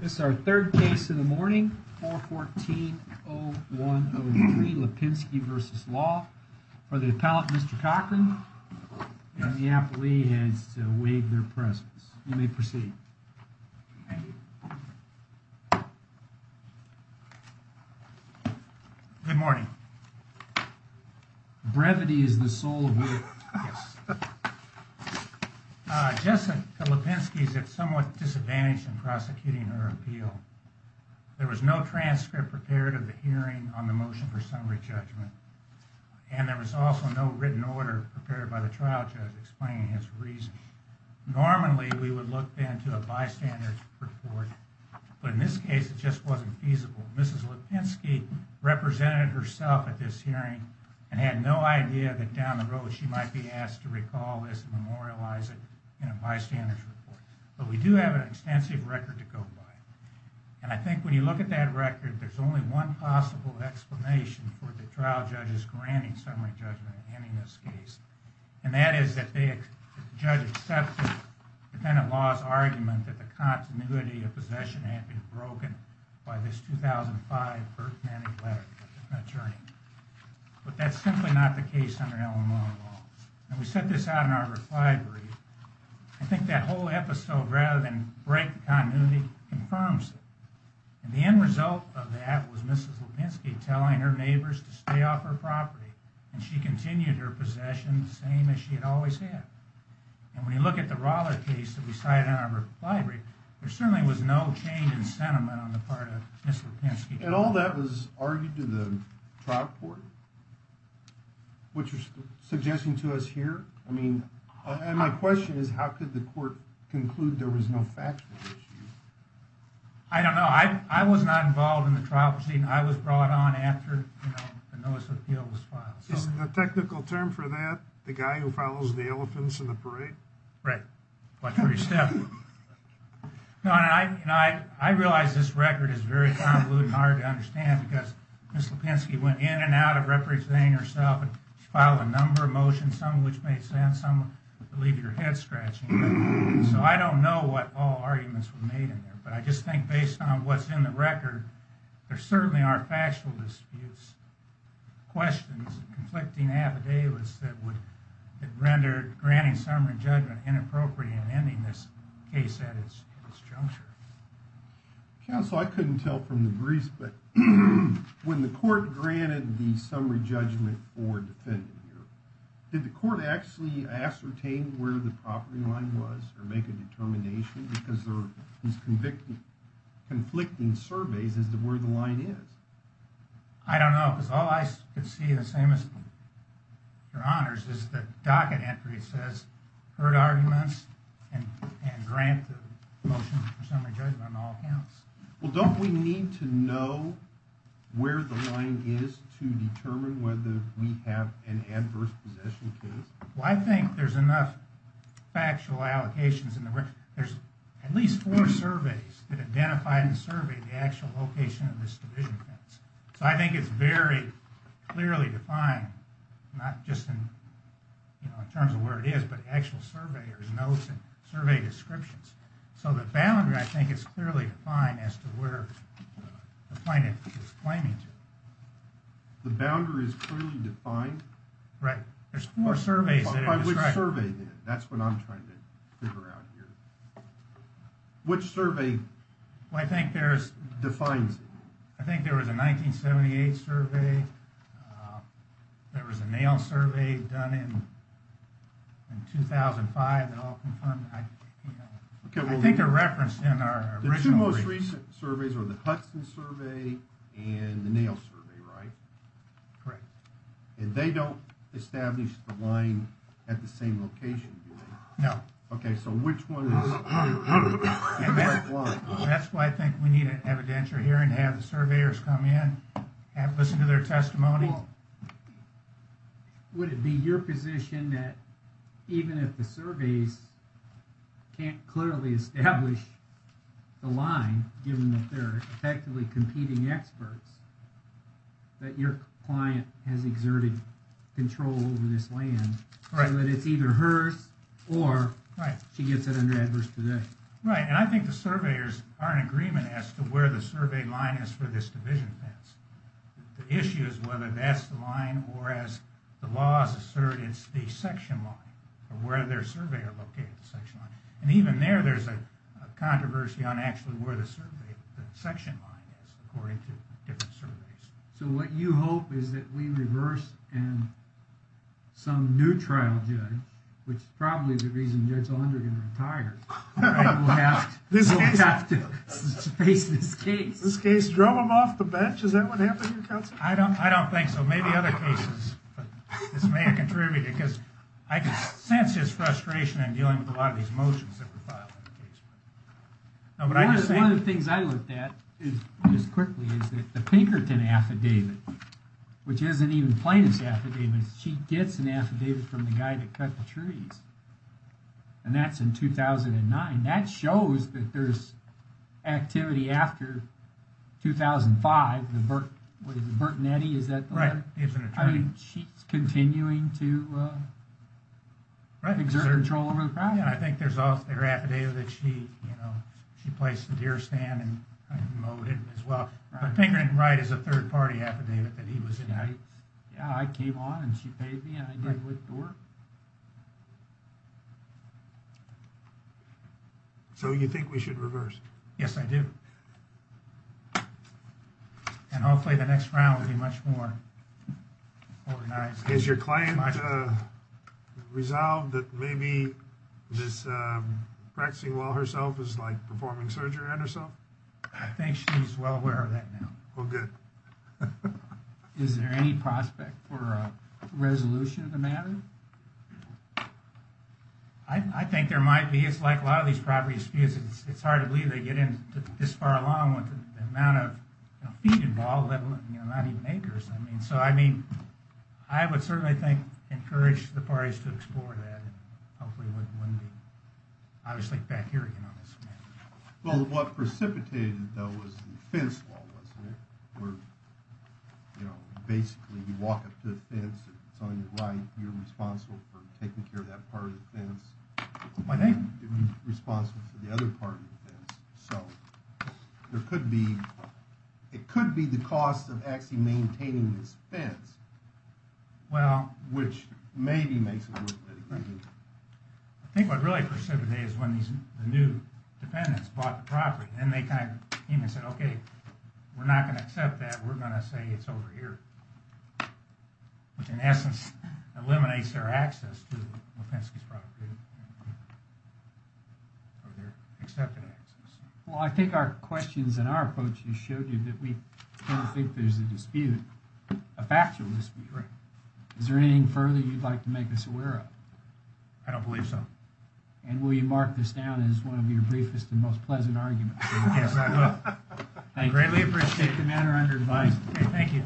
This is our third case in the morning. 414-0103 Lipinski v. Law. For the appellate, Mr. Cochran, and the appellee has to waive their presence. You may proceed. Thank you. Good morning. Brevity is the soul of the... Yes. Jessica Lipinski is at somewhat disadvantage in prosecuting her appeal. There was no transcript prepared of the hearing on the motion for summary judgment. And there was also no written order prepared by the trial judge explaining his reason. Normally, we would look then to a bystander's report. But in this case, it just wasn't feasible. So, Mrs. Lipinski represented herself at this hearing and had no idea that down the road she might be asked to recall this and memorialize it in a bystander's report. But we do have an extensive record to go by. And I think when you look at that record, there's only one possible explanation for the trial judge's granting summary judgment in this case. And that is that the judge accepted the defendant's law's argument that the continuity of possession had been broken by this 2005 Burke County letter from an attorney. But that's simply not the case under Illinois law. And we set this out in our reply brief. I think that whole episode, rather than break the continuity, confirms it. And the end result of that was Mrs. Lipinski telling her neighbors to stay off her property. And she continued her possession, the same as she had always had. And when you look at the Rolla case that we cited in our reply brief, there certainly was no change in sentiment on the part of Mrs. Lipinski. And all that was argued to the trial court, which you're suggesting to us here? I mean, and my question is, how could the court conclude there was no factual issue? I don't know. I was not involved in the trial proceeding. I was brought on after the notice of appeal was filed. Isn't the technical term for that the guy who follows the elephants in the parade? Right. Watch where you step. I realize this record is very convoluted and hard to understand because Mrs. Lipinski went in and out of representing herself and filed a number of motions, some of which made sense, some of which would leave your head scratching. So I don't know what all arguments were made in there. But I just think based on what's in the record, there certainly are factual disputes, questions, conflicting affidavits that would render granting summary judgment inappropriate in ending this case at its juncture. Counsel, I couldn't tell from the briefs, but when the court granted the summary judgment for defendant here, did the court actually ascertain where the property line was or make a determination because these conflicting surveys as to where the line is? I don't know because all I could see the same as your honors is the docket entry. It says heard arguments and grant the motion for summary judgment on all counts. Well, don't we need to know where the line is to determine whether we have an adverse possession case? Well, I think there's enough factual allocations in the record. There's at least four surveys that identified and surveyed the actual location of this division fence. So I think it's very clearly defined, not just in terms of where it is, but actual surveyors' notes and survey descriptions. So the boundary, I think, is clearly defined as to where the plaintiff is claiming to. The boundary is clearly defined? Right. There's four surveys. By which survey then? That's what I'm trying to figure out here. Which survey defines it? I think there was a 1978 survey. There was a nail survey done in 2005 that all confirmed. I think they're referenced in our original briefs. The two most recent surveys are the Hudson survey and the nail survey, right? Correct. And they don't establish the line at the same location, do they? No. Okay, so which one is... That's why I think we need an evidentiary hearing to have the surveyors come in and listen to their testimony. Well, would it be your position that even if the surveys can't clearly establish the line, given that they're effectively competing experts, that your client has exerted control over this land, so that it's either hers or she gets it under adverse possession? Right, and I think the surveyors are in agreement as to where the survey line is for this division fence. The issue is whether that's the line, or as the laws assert, it's the section line, or where their surveyors locate the section line. And even there, there's a controversy on actually where the section line is, according to different surveys. So what you hope is that we reverse and some new trial judge, which is probably the reason Judge Ondergan retired, will have to face this case. Drum him off the bench, is that what happened here, counsel? I don't think so. Maybe other cases. This may have contributed, because I can sense his frustration in dealing with a lot of these motions that were filed. One of the things I looked at, just quickly, is the Pinkerton affidavit, which isn't even plaintiff's affidavit. She gets an affidavit from the guy that cut the trees. And that's in 2009. That shows that there's activity after 2005. The Bert, what is it, Bert and Eddie, is that the letter? She's continuing to exert control over the project. Yeah, I think there's also her affidavit that she, you know, she placed the deer stand and mowed it as well. But Pinkerton Wright is a third party affidavit that he was in. Yeah, I came on and she paid me and I did what you were. So you think we should reverse? Yes, I do. And hopefully the next round will be much more organized. Is your client resolved that maybe this practicing well herself is like performing surgery on herself? I think she's well aware of that now. Well, good. Is there any prospect for a resolution of the matter? I think there might be. It's like a lot of these property disputes. It's hard to believe they get in this far along with the amount of feet involved, not even acres. I mean, so I mean, I would certainly think, encourage the parties to explore that. And hopefully it wouldn't be, obviously, back here. Well, what precipitated that was the fence wall, wasn't it? Where, you know, basically you walk up to the fence, it's on your right, you're responsible for taking care of that part of the fence. My name. Responsible for the other part of the fence. So there could be, it could be the cost of actually maintaining this fence. Well. Which maybe makes it worth it. I think what really precipitated is when these new dependents bought the property. And they kind of came and said, okay, we're not going to accept that. We're going to say it's over here. Which in essence eliminates their access to the property. Or their accepted access. Well, I think our questions and our approach has showed you that we don't think there's a dispute. A factual dispute. Right. Is there anything further you'd like to make us aware of? I don't believe so. And will you mark this down as one of your briefest and most pleasant arguments? Yes, I will. Thank you. I greatly appreciate it. Take the matter under advice. Okay, thank you.